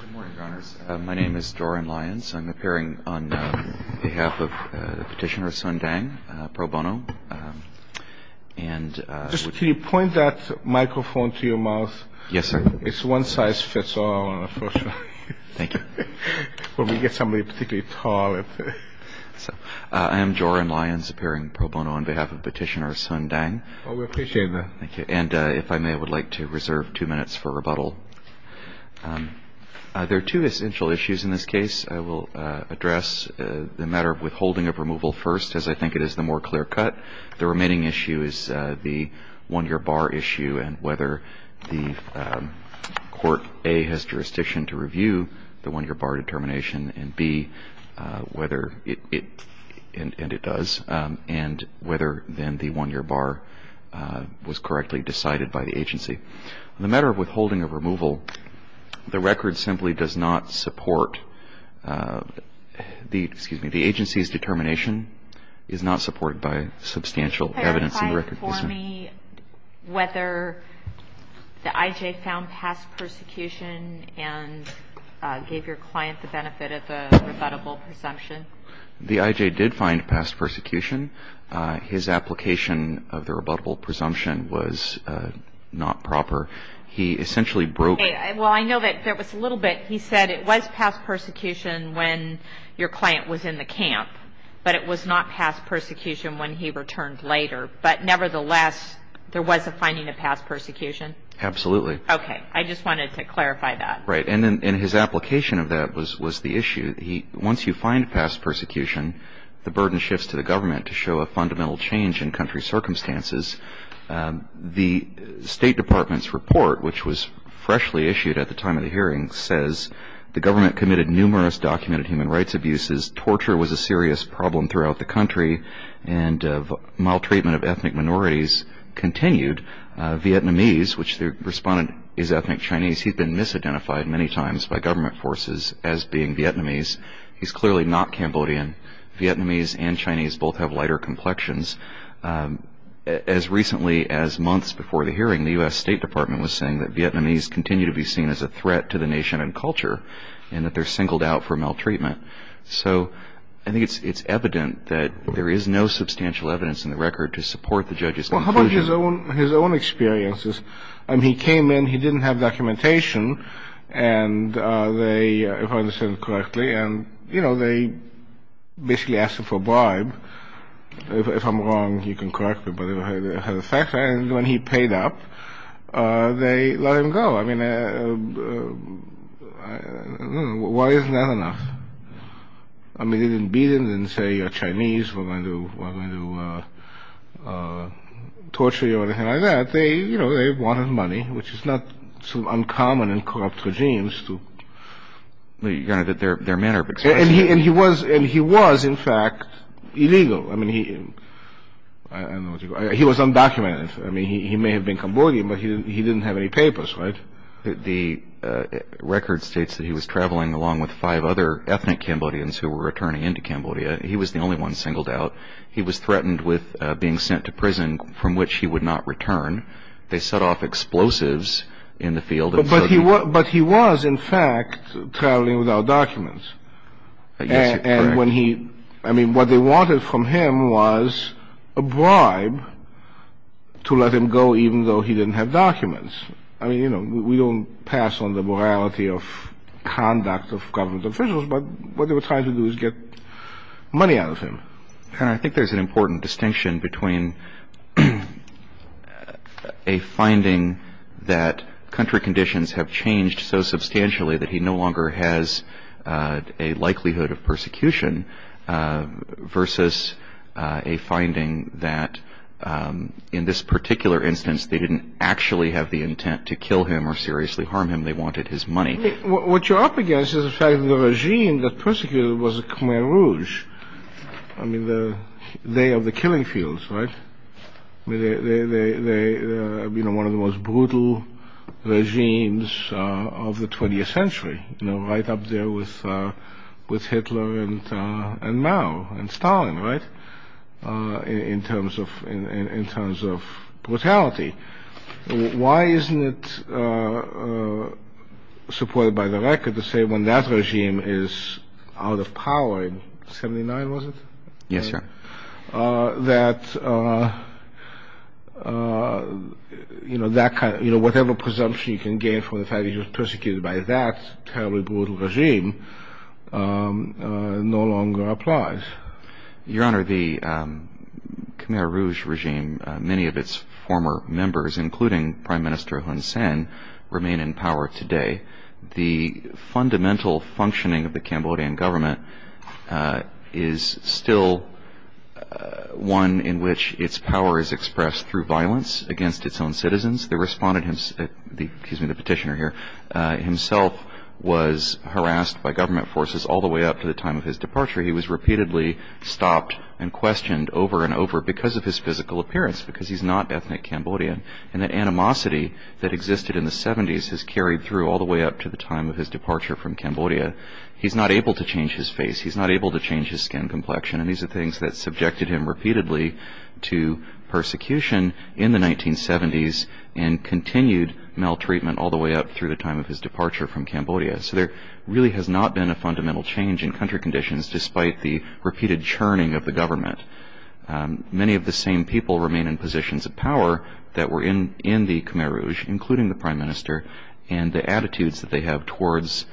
Good morning, Your Honors. My name is Joran Lyons. I'm appearing on behalf of Petitioner Sun Deng, pro bono. And just can you point that microphone to your mouth? Yes, sir. It's one size fits all, unfortunately. Thank you. When we get somebody particularly tall. So I am Joran Lyons appearing pro bono on behalf of Petitioner Sun Deng. Oh, we appreciate that. Thank you. And if I may, I would like to reserve two minutes for rebuttal. There are two essential issues in this case. I will address the matter of withholding of removal first, as I think it is the more clear cut. The remaining issue is the one-year bar issue and whether the court, A, has jurisdiction to review the one-year bar determination, and B, whether it, and it does, and whether then the one-year bar was correctly decided by the agency. On the matter of withholding of removal, the record simply does not support the, excuse me, the agency's determination is not supported by substantial evidence in the record. Can you confirm for me whether the I.J. found past persecution and gave your client the benefit of the rebuttable presumption? The I.J. did find past persecution. His application of the rebuttable presumption was not proper. He essentially broke. Well, I know that there was a little bit. He said it was past persecution when your client was in the camp, but it was not past persecution when he returned later. But nevertheless, there was a finding of past persecution? Absolutely. Okay. I just wanted to clarify that. Right. And his application of that was the issue. Once you find past persecution, the burden shifts to the government to show a fundamental change in country circumstances. The State Department's report, which was freshly issued at the time of the hearing, the government committed numerous documented human rights abuses. Torture was a serious problem throughout the country, and maltreatment of ethnic minorities continued. Vietnamese, which the respondent is ethnic Chinese, he'd been misidentified many times by government forces as being Vietnamese. He's clearly not Cambodian. Vietnamese and Chinese both have lighter complexions. As recently as months before the hearing, the U.S. State Department was saying that Vietnamese continue to be seen as a threat to the nation and culture and that they're singled out for maltreatment. So I think it's evident that there is no substantial evidence in the record to support the judge's conclusion. Well, how about his own experiences? He came in, he didn't have documentation, if I understand it correctly, and they basically asked him for a bribe. If I'm wrong, you can correct me, but it had an effect. And when he paid up, they let him go. I mean, why isn't that enough? I mean, they didn't beat him and say you're Chinese, we're going to torture you or anything like that. They, you know, they wanted money, which is not so uncommon in corrupt regimes. Their manner of expression. And he was, in fact, illegal. I mean, he was undocumented. I mean, he may have been Cambodian, but he didn't have any papers, right? The record states that he was traveling along with five other ethnic Cambodians who were returning into Cambodia. He was the only one singled out. He was threatened with being sent to prison from which he would not return. They set off explosives in the field. But he was, in fact, traveling without documents. And when he, I mean, what they wanted from him was a bribe to let him go even though he didn't have documents. I mean, you know, we don't pass on the morality of conduct of government officials, but what they were trying to do is get money out of him. And I think there's an important distinction between a finding that country conditions have changed so substantially that he no longer has a likelihood of persecution versus a finding that in this particular instance they didn't actually have the intent to kill him or seriously harm him. They wanted his money. What you're up against is the fact that the regime that persecuted him was Khmer Rouge. I mean, they are the killing fields, right? You know, one of the most brutal regimes of the 20th century, you know, right up there with Hitler and Mao and Stalin, right, in terms of brutality. Why isn't it supported by the record to say when that regime is out of power in 79, was it? Yes, sir. That, you know, whatever presumption you can gain from the fact that he was persecuted by that terribly brutal regime no longer applies. Your Honor, the Khmer Rouge regime, many of its former members, including Prime Minister Hun Sen, remain in power today. The fundamental functioning of the Cambodian government is still one in which its power is expressed through violence against its own citizens. The respondent, excuse me, the petitioner here, himself was harassed by government forces all the way up to the time of his departure. He was repeatedly stopped and questioned over and over because of his physical appearance, because he's not ethnic Cambodian. And that animosity that existed in the 70s has carried through all the way up to the time of his departure from Cambodia. He's not able to change his face. He's not able to change his skin complexion. And these are things that subjected him repeatedly to persecution in the 1970s and continued maltreatment all the way up through the time of his departure from Cambodia. So there really has not been a fundamental change in country conditions despite the repeated churning of the government. Many of the same people remain in positions of power that were in the Khmer Rouge, including the Prime Minister, and the attitudes that they have towards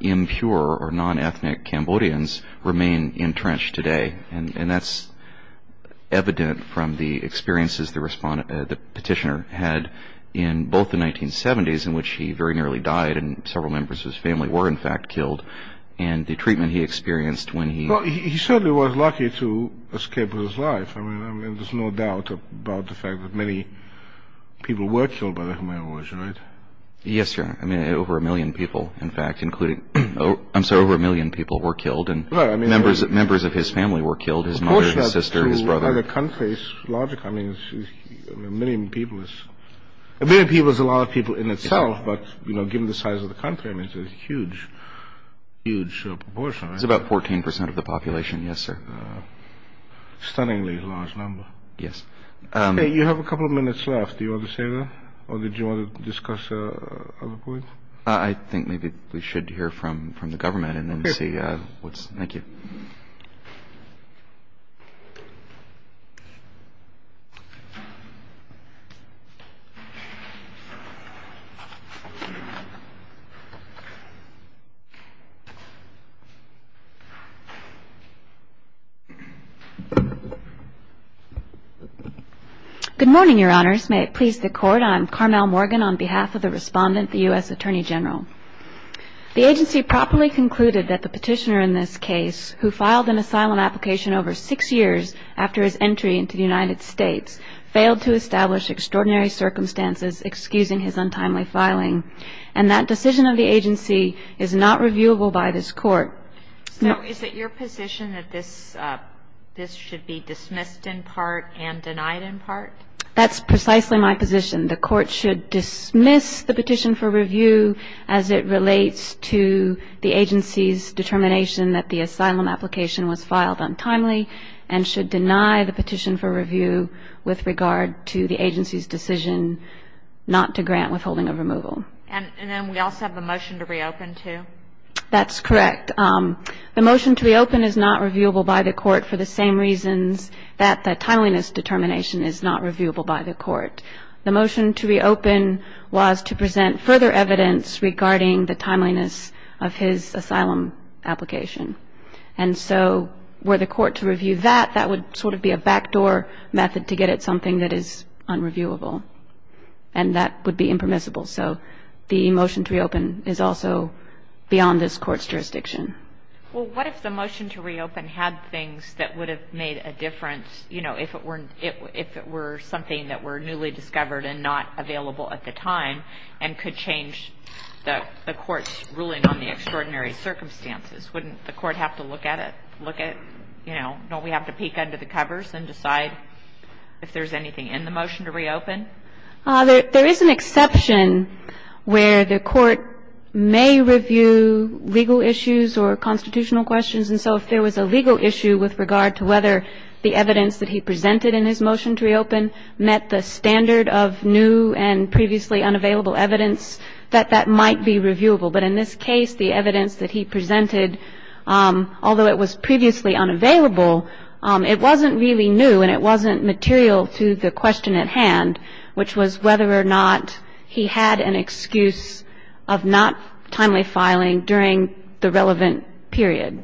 impure or non-ethnic Cambodians remain entrenched today. And that's evident from the experiences the petitioner had in both the 1970s, in which he very nearly died, and several members of his family were in fact killed, and the treatment he experienced when he... Well, he certainly was lucky to escape with his life. I mean, there's no doubt about the fact that many people were killed by the Khmer Rouge, right? Yes, Your Honor. I mean, over a million people, in fact, including... ...were killed, his mother, his sister, his brother. By the country's logic, I mean, a million people is... A million people is a lot of people in itself, but, you know, given the size of the country, I mean, it's a huge, huge proportion, right? It's about 14% of the population, yes, sir. A stunningly large number. Yes. You have a couple of minutes left. Do you want to say that, or did you want to discuss other points? I think maybe we should hear from the government and then see what's... Thank you. Good morning, Your Honors. May it please the Court, I'm Carmel Morgan on behalf of the respondent, the U.S. Attorney General. The agency properly concluded that the petitioner in this case, who filed an asylum application over six years after his entry into the United States, failed to establish extraordinary circumstances excusing his untimely filing, and that decision of the agency is not reviewable by this Court. So is it your position that this should be dismissed in part and denied in part? That's precisely my position. The Court should dismiss the petition for review as it relates to the agency's determination that the asylum application was filed untimely and should deny the petition for review with regard to the agency's decision not to grant withholding of removal. And then we also have the motion to reopen, too. That's correct. The motion to reopen is not reviewable by the Court for the same reasons that the timeliness determination is not reviewable by the Court. The motion to reopen was to present further evidence regarding the timeliness of his asylum application. And so were the Court to review that, that would sort of be a backdoor method to get at something that is unreviewable, and that would be impermissible. So the motion to reopen is also beyond this Court's jurisdiction. Well, what if the motion to reopen had things that would have made a difference, you know, if it were something that were newly discovered and not available at the time and could change the Court's ruling on the extraordinary circumstances? Wouldn't the Court have to look at it, look at, you know, don't we have to peek under the covers and decide if there's anything in the motion to reopen? There is an exception where the Court may review legal issues or constitutional questions. And so if there was a legal issue with regard to whether the evidence that he presented in his motion to reopen met the standard of new and previously unavailable evidence, that that might be reviewable. But in this case, the evidence that he presented, although it was previously unavailable, it wasn't really new and it wasn't material to the question at hand, which was whether or not he had an excuse of not timely filing during the relevant period.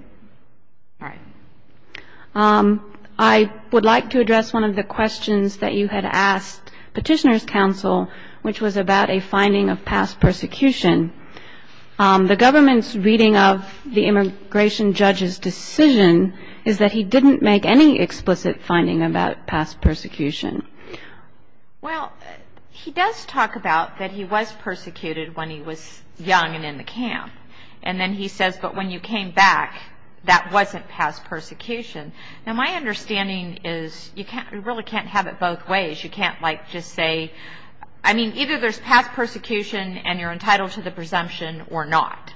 All right. I would like to address one of the questions that you had asked Petitioners' Counsel, which was about a finding of past persecution. The government's reading of the immigration judge's decision is that he didn't make any explicit finding about past persecution. Well, he does talk about that he was persecuted when he was young and in the camp. And then he says, but when you came back, that wasn't past persecution. Now, my understanding is you really can't have it both ways. You can't, like, just say, I mean, either there's past persecution and you're entitled to the presumption or not,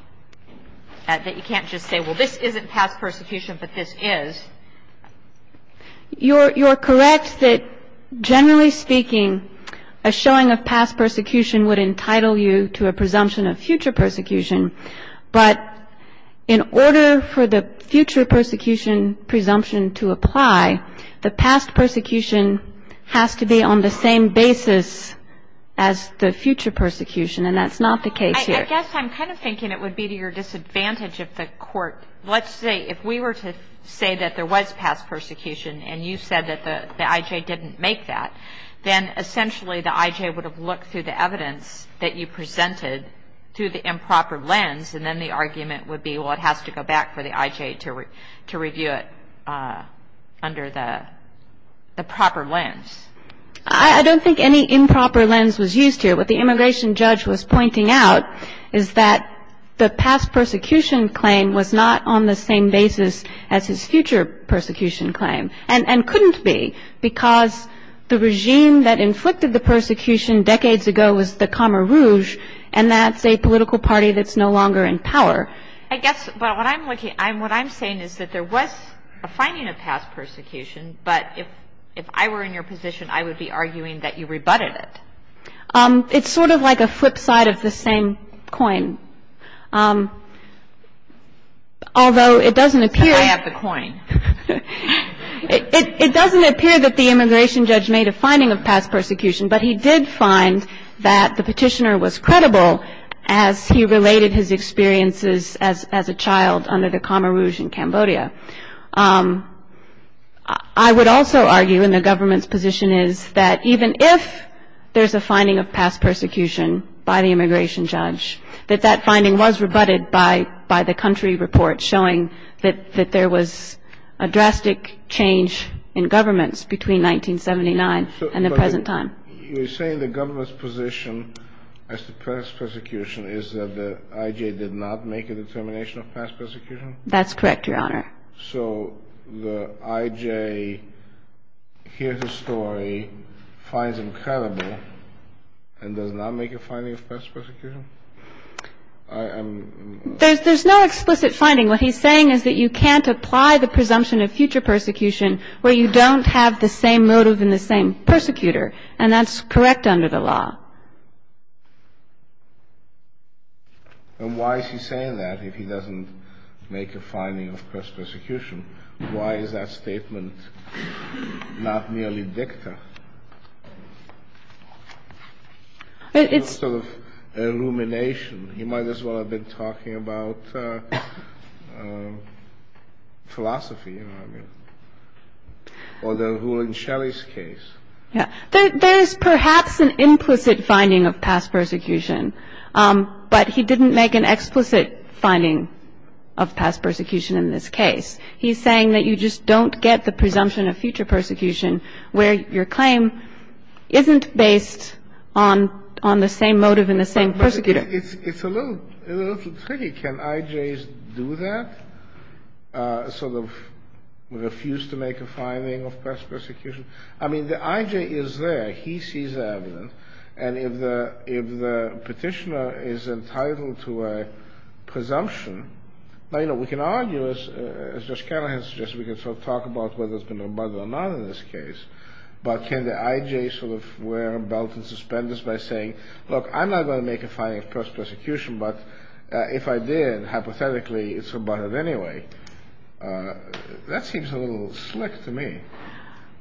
that you can't just say, well, this isn't past persecution, but this is. You're correct that, generally speaking, a showing of past persecution would entitle you to a presumption of future persecution. But in order for the future persecution presumption to apply, the past persecution has to be on the same basis as the future persecution. And that's not the case here. I guess I'm kind of thinking it would be to your disadvantage if the court, let's say, if we were to say that there was past persecution and you said that the I.J. didn't make that, then essentially the I.J. would have looked through the evidence that you presented through the improper lens and then the argument would be, well, it has to go back for the I.J. to review it under the proper lens. I don't think any improper lens was used here. What the immigration judge was pointing out is that the past persecution claim was not on the same basis as his future persecution claim and couldn't be because the regime that inflicted the persecution decades ago was the Camarouge, and that's a political party that's no longer in power. I guess what I'm saying is that there was a finding of past persecution, but if I were in your position, I would be arguing that you rebutted it. It's sort of like a flip side of the same coin. Although it doesn't appear that the immigration judge made a finding of past persecution, but he did find that the petitioner was credible as he related his experiences as a child under the Camarouge in Cambodia. I would also argue in the government's position is that even if there's a finding of past persecution by the immigration judge that that finding was rebutted by the country report showing that there was a drastic change in governments between 1979 and the present time. You're saying the government's position as to past persecution is that the I.J. did not make a determination of past persecution? That's correct, Your Honor. So the I.J. hears the story, finds him credible, and does not make a finding of past persecution? There's no explicit finding. What he's saying is that you can't apply the presumption of future persecution where you don't have the same motive and the same persecutor, and that's correct under the law. And why is he saying that if he doesn't make a finding of past persecution? Why is that statement not merely dicta? It's sort of illumination. He might as well have been talking about philosophy, you know what I mean, or the rule in Shelley's case. Yeah. There's perhaps an implicit finding of past persecution, but he didn't make an explicit finding of past persecution in this case. He's saying that you just don't get the presumption of future persecution where your claim isn't based on the same motive and the same persecutor. It's a little tricky. Can I.J.'s do that, sort of refuse to make a finding of past persecution? I mean, the I.J. is there. He sees the evidence. And if the petitioner is entitled to a presumption, now, you know, we can argue, as Judge Callahan suggested, we can sort of talk about whether it's been rebutted or not in this case. But can the I.J. sort of wear a belt in suspense by saying, look, I'm not going to make a finding of past persecution, but if I did, hypothetically, it's rebutted anyway. That seems a little slick to me.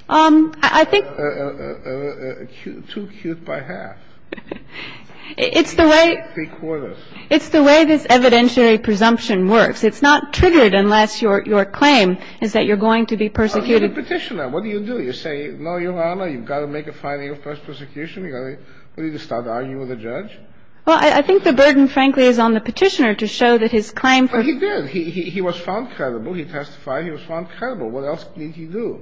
I think. Too cute by half. It's the way. Three quarters. It's the way this evidentiary presumption works. It's not triggered unless your claim is that you're going to be persecuted. The petitioner, what do you do? You say, no, Your Honor, you've got to make a finding of past persecution. You've got to start arguing with the judge. Well, I think the burden, frankly, is on the petitioner to show that his claim. He did. He was found credible. He testified. He was found credible. What else did he do?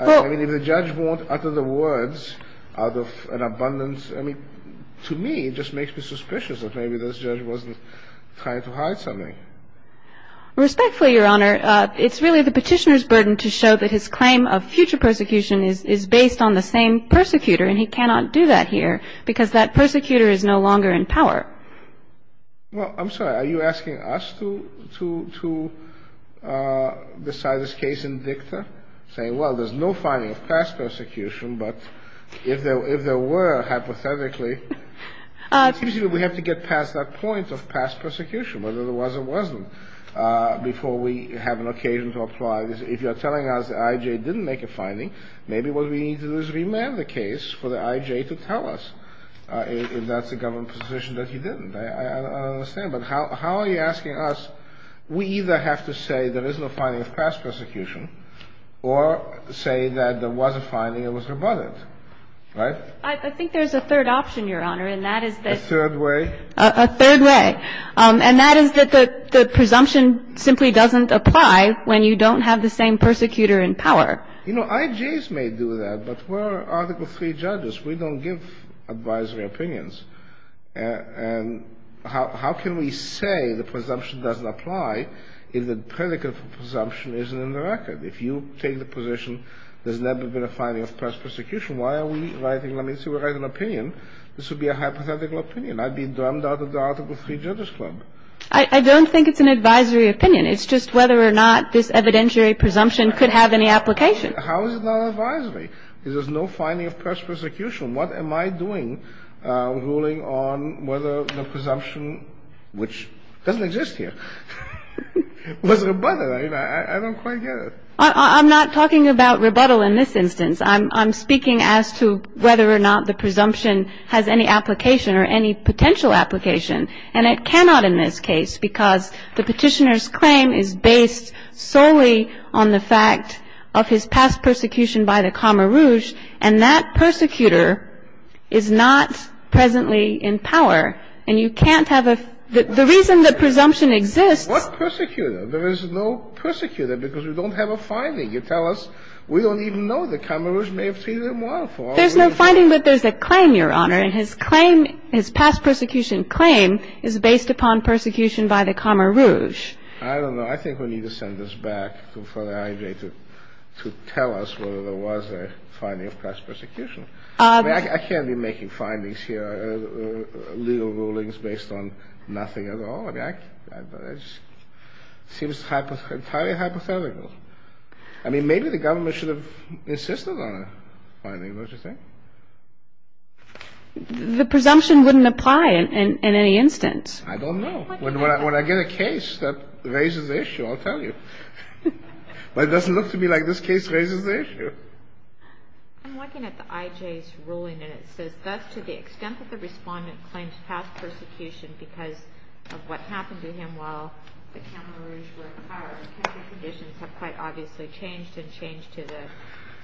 I mean, if the judge won't utter the words out of an abundance, I mean, to me, it just makes me suspicious that maybe this judge wasn't trying to hide something. Respectfully, Your Honor, it's really the petitioner's burden to show that his claim of future persecution is based on the same persecutor, and he cannot do that here because that persecutor is no longer in power. Well, I'm sorry. Are you asking us to decide this case in dicta, saying, well, there's no finding of past persecution, but if there were, hypothetically, it seems to me we have to get past that point of past persecution, whether there was or wasn't, before we have an occasion to apply this. If you're telling us the I.J. didn't make a finding, maybe what we need to do is remand the case for the I.J. to tell us if that's a government position that he didn't. I don't understand. But how are you asking us? We either have to say there is no finding of past persecution or say that there was a finding and it was rebutted. Right? I think there's a third option, Your Honor, and that is that... A third way? A third way. And that is that the presumption simply doesn't apply when you don't have the same persecutor in power. You know, I.J.'s may do that, but we're Article III judges. We don't give advisory opinions. And how can we say the presumption doesn't apply if the predicate for presumption isn't in the record? If you take the position there's never been a finding of past persecution, why are we writing an opinion? This would be a hypothetical opinion. I'd be drummed out of the Article III Judges Club. I don't think it's an advisory opinion. It's just whether or not this evidentiary presumption could have any application. How is it not advisory? There's no finding of past persecution. What am I doing ruling on whether the presumption, which doesn't exist here, was rebutted? I mean, I don't quite get it. I'm not talking about rebuttal in this instance. I'm speaking as to whether or not the presumption has any application or any potential application. And it cannot in this case because the Petitioner's claim is based solely on the fact of his past persecution by the Camarouge, and that persecutor is not presently in power, and you can't have a the reason the presumption exists. What persecutor? There is no persecutor because we don't have a finding. You tell us we don't even know the Camarouge may have treated him well for all we know. There's no finding, but there's a claim, Your Honor. And his claim, his past persecution claim is based upon persecution by the Camarouge. I don't know. I think we need to send this back to the IJA to tell us whether there was a finding of past persecution. I mean, I can't be making findings here, legal rulings based on nothing at all. I mean, it seems entirely hypothetical. I mean, maybe the government should have insisted on a finding, don't you think? The presumption wouldn't apply in any instance. I don't know. When I get a case that raises the issue, I'll tell you. But it doesn't look to me like this case raises the issue. I'm looking at the IJA's ruling, and it says, Thus, to the extent that the Respondent claims past persecution because of what happened to him while the Camarouge were in power, his conditions have quite obviously changed and changed to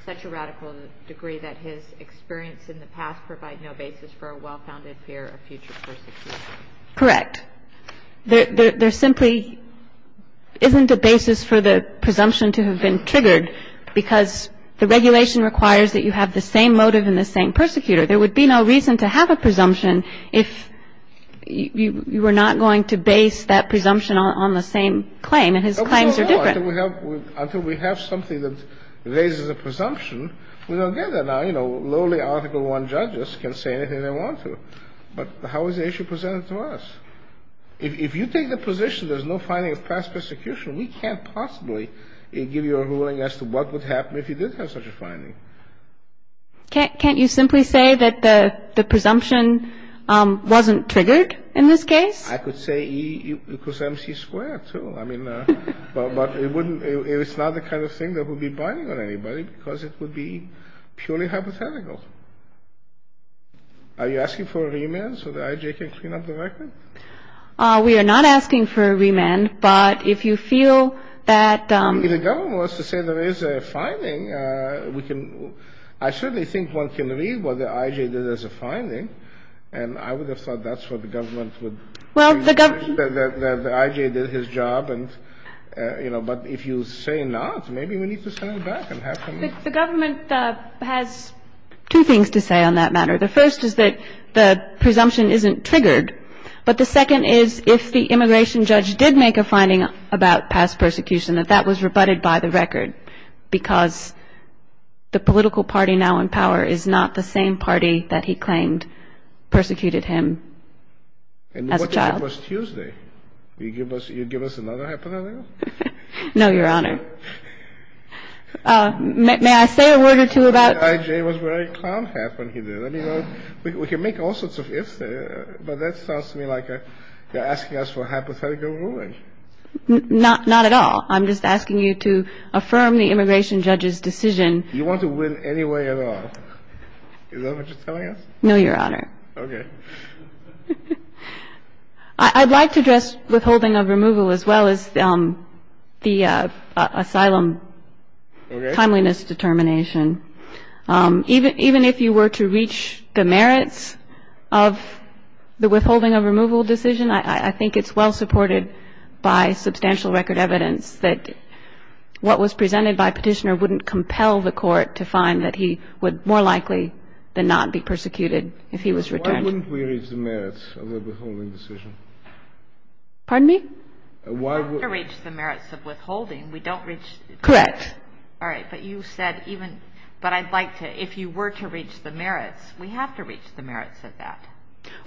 such a radical degree that his experience in the past provide no basis for a well-founded fear of future persecution. Correct. There simply isn't a basis for the presumption to have been triggered because the regulation requires that you have the same motive and the same persecutor. There would be no reason to have a presumption if you were not going to base that presumption on the same claim, and his claims are different. Until we have something that raises a presumption, we don't get that. Now, you know, lowly Article I judges can say anything they want to. But how is the issue presented to us? If you take the position there's no finding of past persecution, we can't possibly give you a ruling as to what would happen if you did have such a finding. Can't you simply say that the presumption wasn't triggered in this case? I could say E equals MC squared, too. I mean, but it's not the kind of thing that would be binding on anybody because it would be purely hypothetical. Are you asking for a remand so the IJ can clean up the record? We are not asking for a remand, but if you feel that ---- If the government wants to say there is a finding, I certainly think one can read what the IJ did as a finding, and I would have thought that's what the government would have said. The IJ did his job and, you know, but if you say not, maybe we need to send it back and have some ---- The government has two things to say on that matter. The first is that the presumption isn't triggered, but the second is if the immigration judge did make a finding about past persecution, that that was rebutted by the record because the political party now in power is not the same party that he claimed persecuted him as a child. And what if it was Tuesday? Will you give us another hypothetical? No, Your Honor. May I say a word or two about ---- The IJ was very calm when he did it. I mean, we can make all sorts of ifs there, but that sounds to me like you're asking us for hypothetical ruling. Not at all. I'm just asking you to affirm the immigration judge's decision. You want to win anyway at all. Is that what you're telling us? No, Your Honor. Okay. I'd like to address withholding of removal as well as the asylum timeliness determination. Even if you were to reach the merits of the withholding of removal decision, I think it's well supported by substantial record evidence that what was presented by Petitioner wouldn't compel the Court to find that he would more likely than not be the person who was returned. Why wouldn't we reach the merits of the withholding decision? Pardon me? Why would we? We don't have to reach the merits of withholding. We don't reach the merits. Correct. All right. But you said even ---- But I'd like to, if you were to reach the merits, we have to reach the merits of that.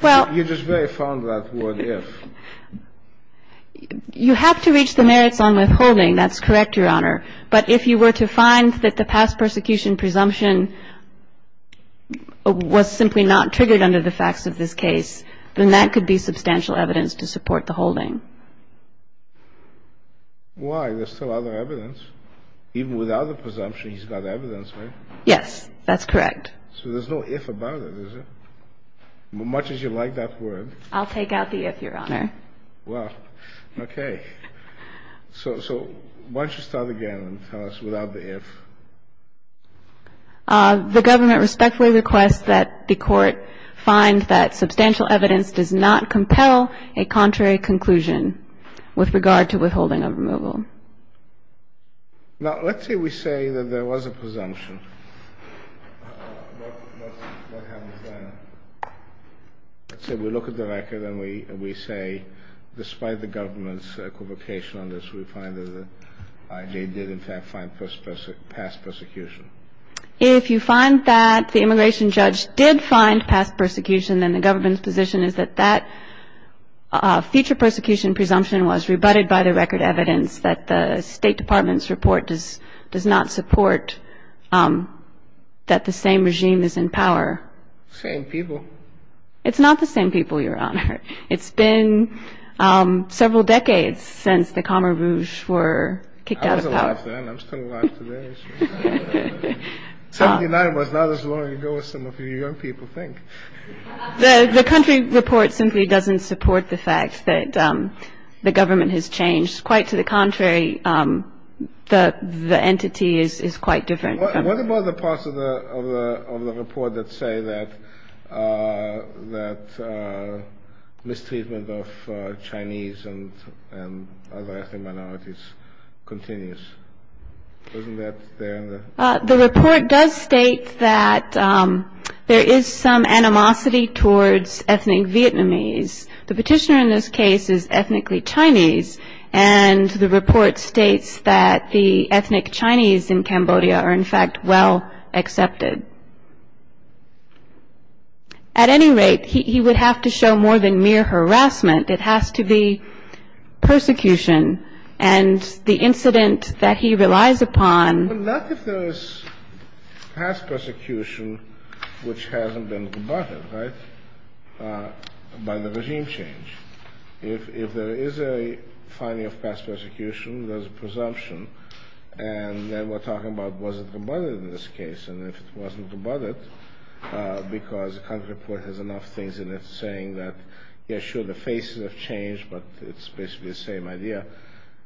Well ---- You just very fond of that word if. You have to reach the merits on withholding. That's correct, Your Honor. But if you were to find that the past persecution presumption was simply not triggered under the facts of this case, then that could be substantial evidence to support the holding. Why? There's still other evidence. Even without the presumption, he's got evidence, right? Yes, that's correct. So there's no if about it, is there? Much as you like that word ---- I'll take out the if, Your Honor. Well, okay. So why don't you start again and tell us without the if? The government respectfully requests that the Court find that substantial evidence does not compel a contrary conclusion with regard to withholding of removal. Now, let's say we say that there was a presumption. What happens then? Let's say we look at the record and we say despite the government's equivocation on this, we find that they did in fact find past persecution. If you find that the immigration judge did find past persecution, then the government's position is that that future persecution presumption was rebutted by the record evidence that the State Department's report does not support that the same regime is in power. Same people. It's not the same people, Your Honor. It's been several decades since the Khmer Rouge were kicked out of power. I was alive then. I'm still alive today. 79 was not as long ago as some of you young people think. The country report simply doesn't support the fact that the government has changed. Quite to the contrary, the entity is quite different. What about the parts of the report that say that mistreatment of Chinese and other ethnic minorities continues? Isn't that there? The report does state that there is some animosity towards ethnic Vietnamese. The petitioner in this case is ethnically Chinese, and the report states that the ethnic Chinese in Cambodia are in fact well accepted. At any rate, he would have to show more than mere harassment. It has to be persecution and the incident that he relies upon. But not if there is past persecution which hasn't been combated, right, by the regime change. If there is a finding of past persecution, there's a presumption, and then we're talking about was it combated in this case, and if it wasn't combated, because the country report has enough things in it saying that, yeah, sure, the faces have changed, but it's basically the same idea.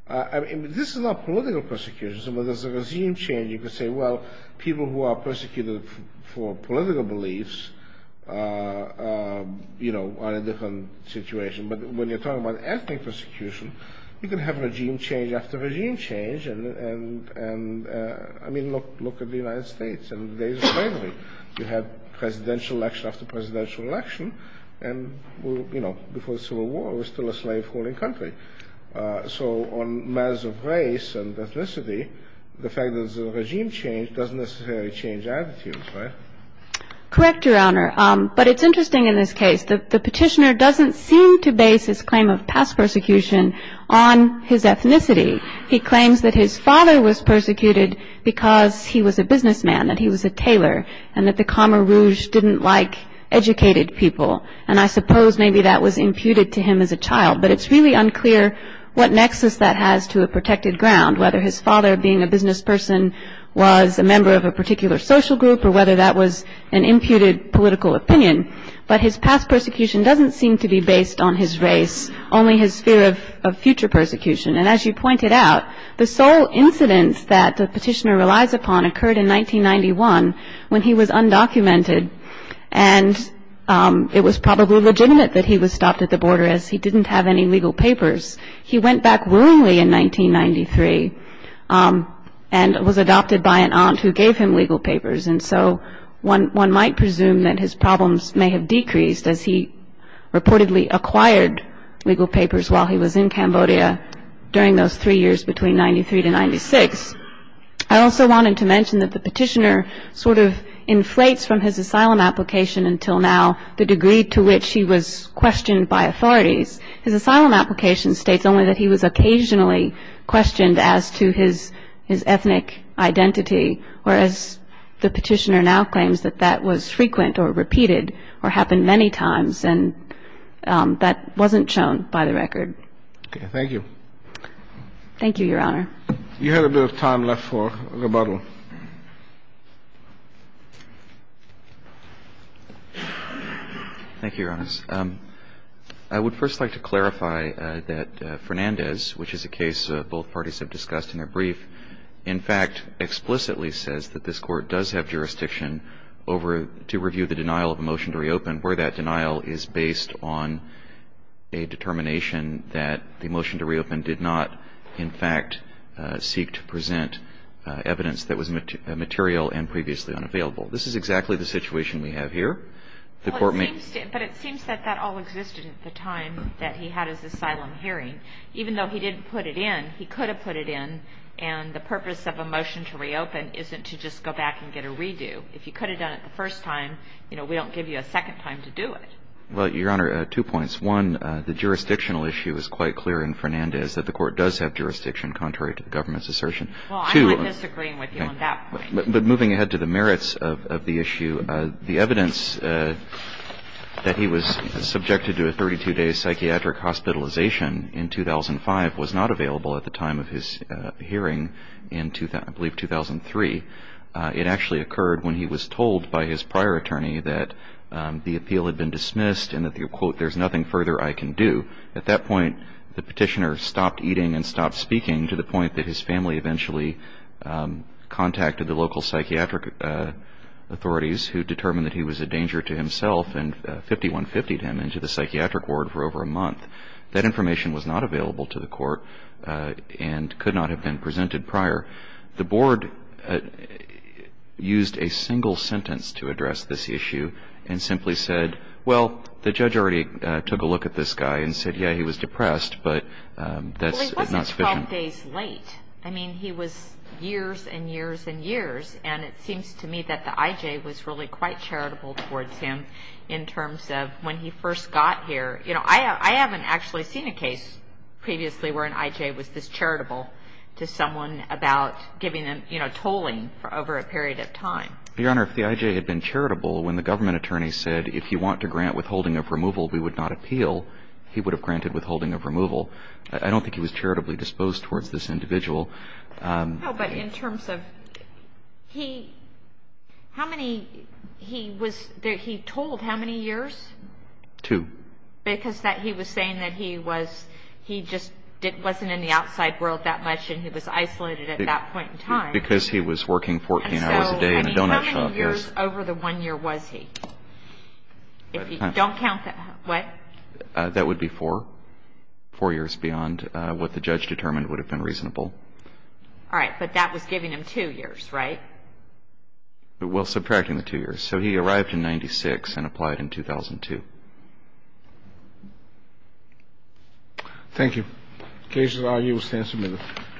I mean, this is not political persecution. So when there's a regime change, you could say, well, people who are persecuted for political beliefs, you know, are in a different situation. But when you're talking about ethnic persecution, you can have regime change after regime change. And, I mean, look at the United States in the days of slavery. You had presidential election after presidential election, and, you know, before the Civil War we were still a slave-holding country. So on matters of race and ethnicity, the fact that there's a regime change doesn't necessarily change attitudes, right? Correct, Your Honor. But it's interesting in this case. The petitioner doesn't seem to base his claim of past persecution on his ethnicity. He claims that his father was persecuted because he was a businessman, that he was a tailor, and that the Khmer Rouge didn't like educated people. And I suppose maybe that was imputed to him as a child, but it's really unclear what nexus that has to a protected ground, whether his father being a business person was a member of a particular social group or whether that was an imputed political opinion. But his past persecution doesn't seem to be based on his race, only his fear of future persecution. And as you pointed out, the sole incidence that the petitioner relies upon occurred in 1991 when he was undocumented and it was probably legitimate that he was stopped at the border as he didn't have any legal papers. He went back willingly in 1993 and was adopted by an aunt who gave him legal papers. And so one might presume that his problems may have decreased as he reportedly acquired legal papers while he was in Cambodia during those three years between 1993 to 1996. I also wanted to mention that the petitioner sort of inflates from his asylum application until now the degree to which he was questioned by authorities. His asylum application states only that he was occasionally questioned as to his ethnic identity, whereas the petitioner now claims that that was frequent or repeated or happened many times and that wasn't shown by the record. Okay. Thank you. Thank you, Your Honor. You have a bit of time left for rebuttal. Thank you, Your Honors. I would first like to clarify that Fernandez, which is a case both parties have discussed in their brief, in fact explicitly says that this Court does have jurisdiction to review the denial of a motion to reopen where that denial is based on a determination that the motion to reopen did not, in fact, seek to present evidence that was material and previously unavailable. This is exactly the situation we have here. But it seems that that all existed at the time that he had his asylum hearing. Even though he didn't put it in, he could have put it in, and the purpose of a motion to reopen isn't to just go back and get a redo. If you could have done it the first time, you know, we don't give you a second time to do it. Well, Your Honor, two points. One, the jurisdictional issue is quite clear in Fernandez, that the Court does have jurisdiction contrary to the government's assertion. Well, I'm not disagreeing with you on that point. But moving ahead to the merits of the issue, the evidence that he was subjected to a 32-day psychiatric hospitalization in 2005 was not available at the time of his hearing in, I believe, 2003. It actually occurred when he was told by his prior attorney that the appeal had been dismissed and that, quote, there's nothing further I can do. At that point, the petitioner stopped eating and stopped speaking to the point that his family eventually contacted the local psychiatric authorities who determined that he was a danger to himself and 5150'd him into the psychiatric ward for over a month. That information was not available to the Court and could not have been presented prior. The Board used a single sentence to address this issue and simply said, well, the judge already took a look at this guy and said, yeah, he was depressed, but that's not sufficient. I mean, he was years and years and years, and it seems to me that the I.J. was really quite charitable towards him in terms of when he first got here. You know, I haven't actually seen a case previously where an I.J. was this charitable to someone about giving them, you know, tolling over a period of time. Your Honor, if the I.J. had been charitable when the government attorney said, if you want to grant withholding of removal, we would not appeal, he would have granted withholding of removal. I don't think he was charitably disposed towards this individual. No, but in terms of, he, how many, he was, he told how many years? Two. Because he was saying that he was, he just wasn't in the outside world that much and he was isolated at that point in time. Because he was working 14 hours a day in a donut shop. So, I mean, how many years over the one year was he? If you don't count the, what? That would be four. Four years beyond what the judge determined would have been reasonable. All right. But that was giving him two years, right? Well, subtracting the two years. So he arrived in 96 and applied in 2002. Thank you. The case at argue stands submitted.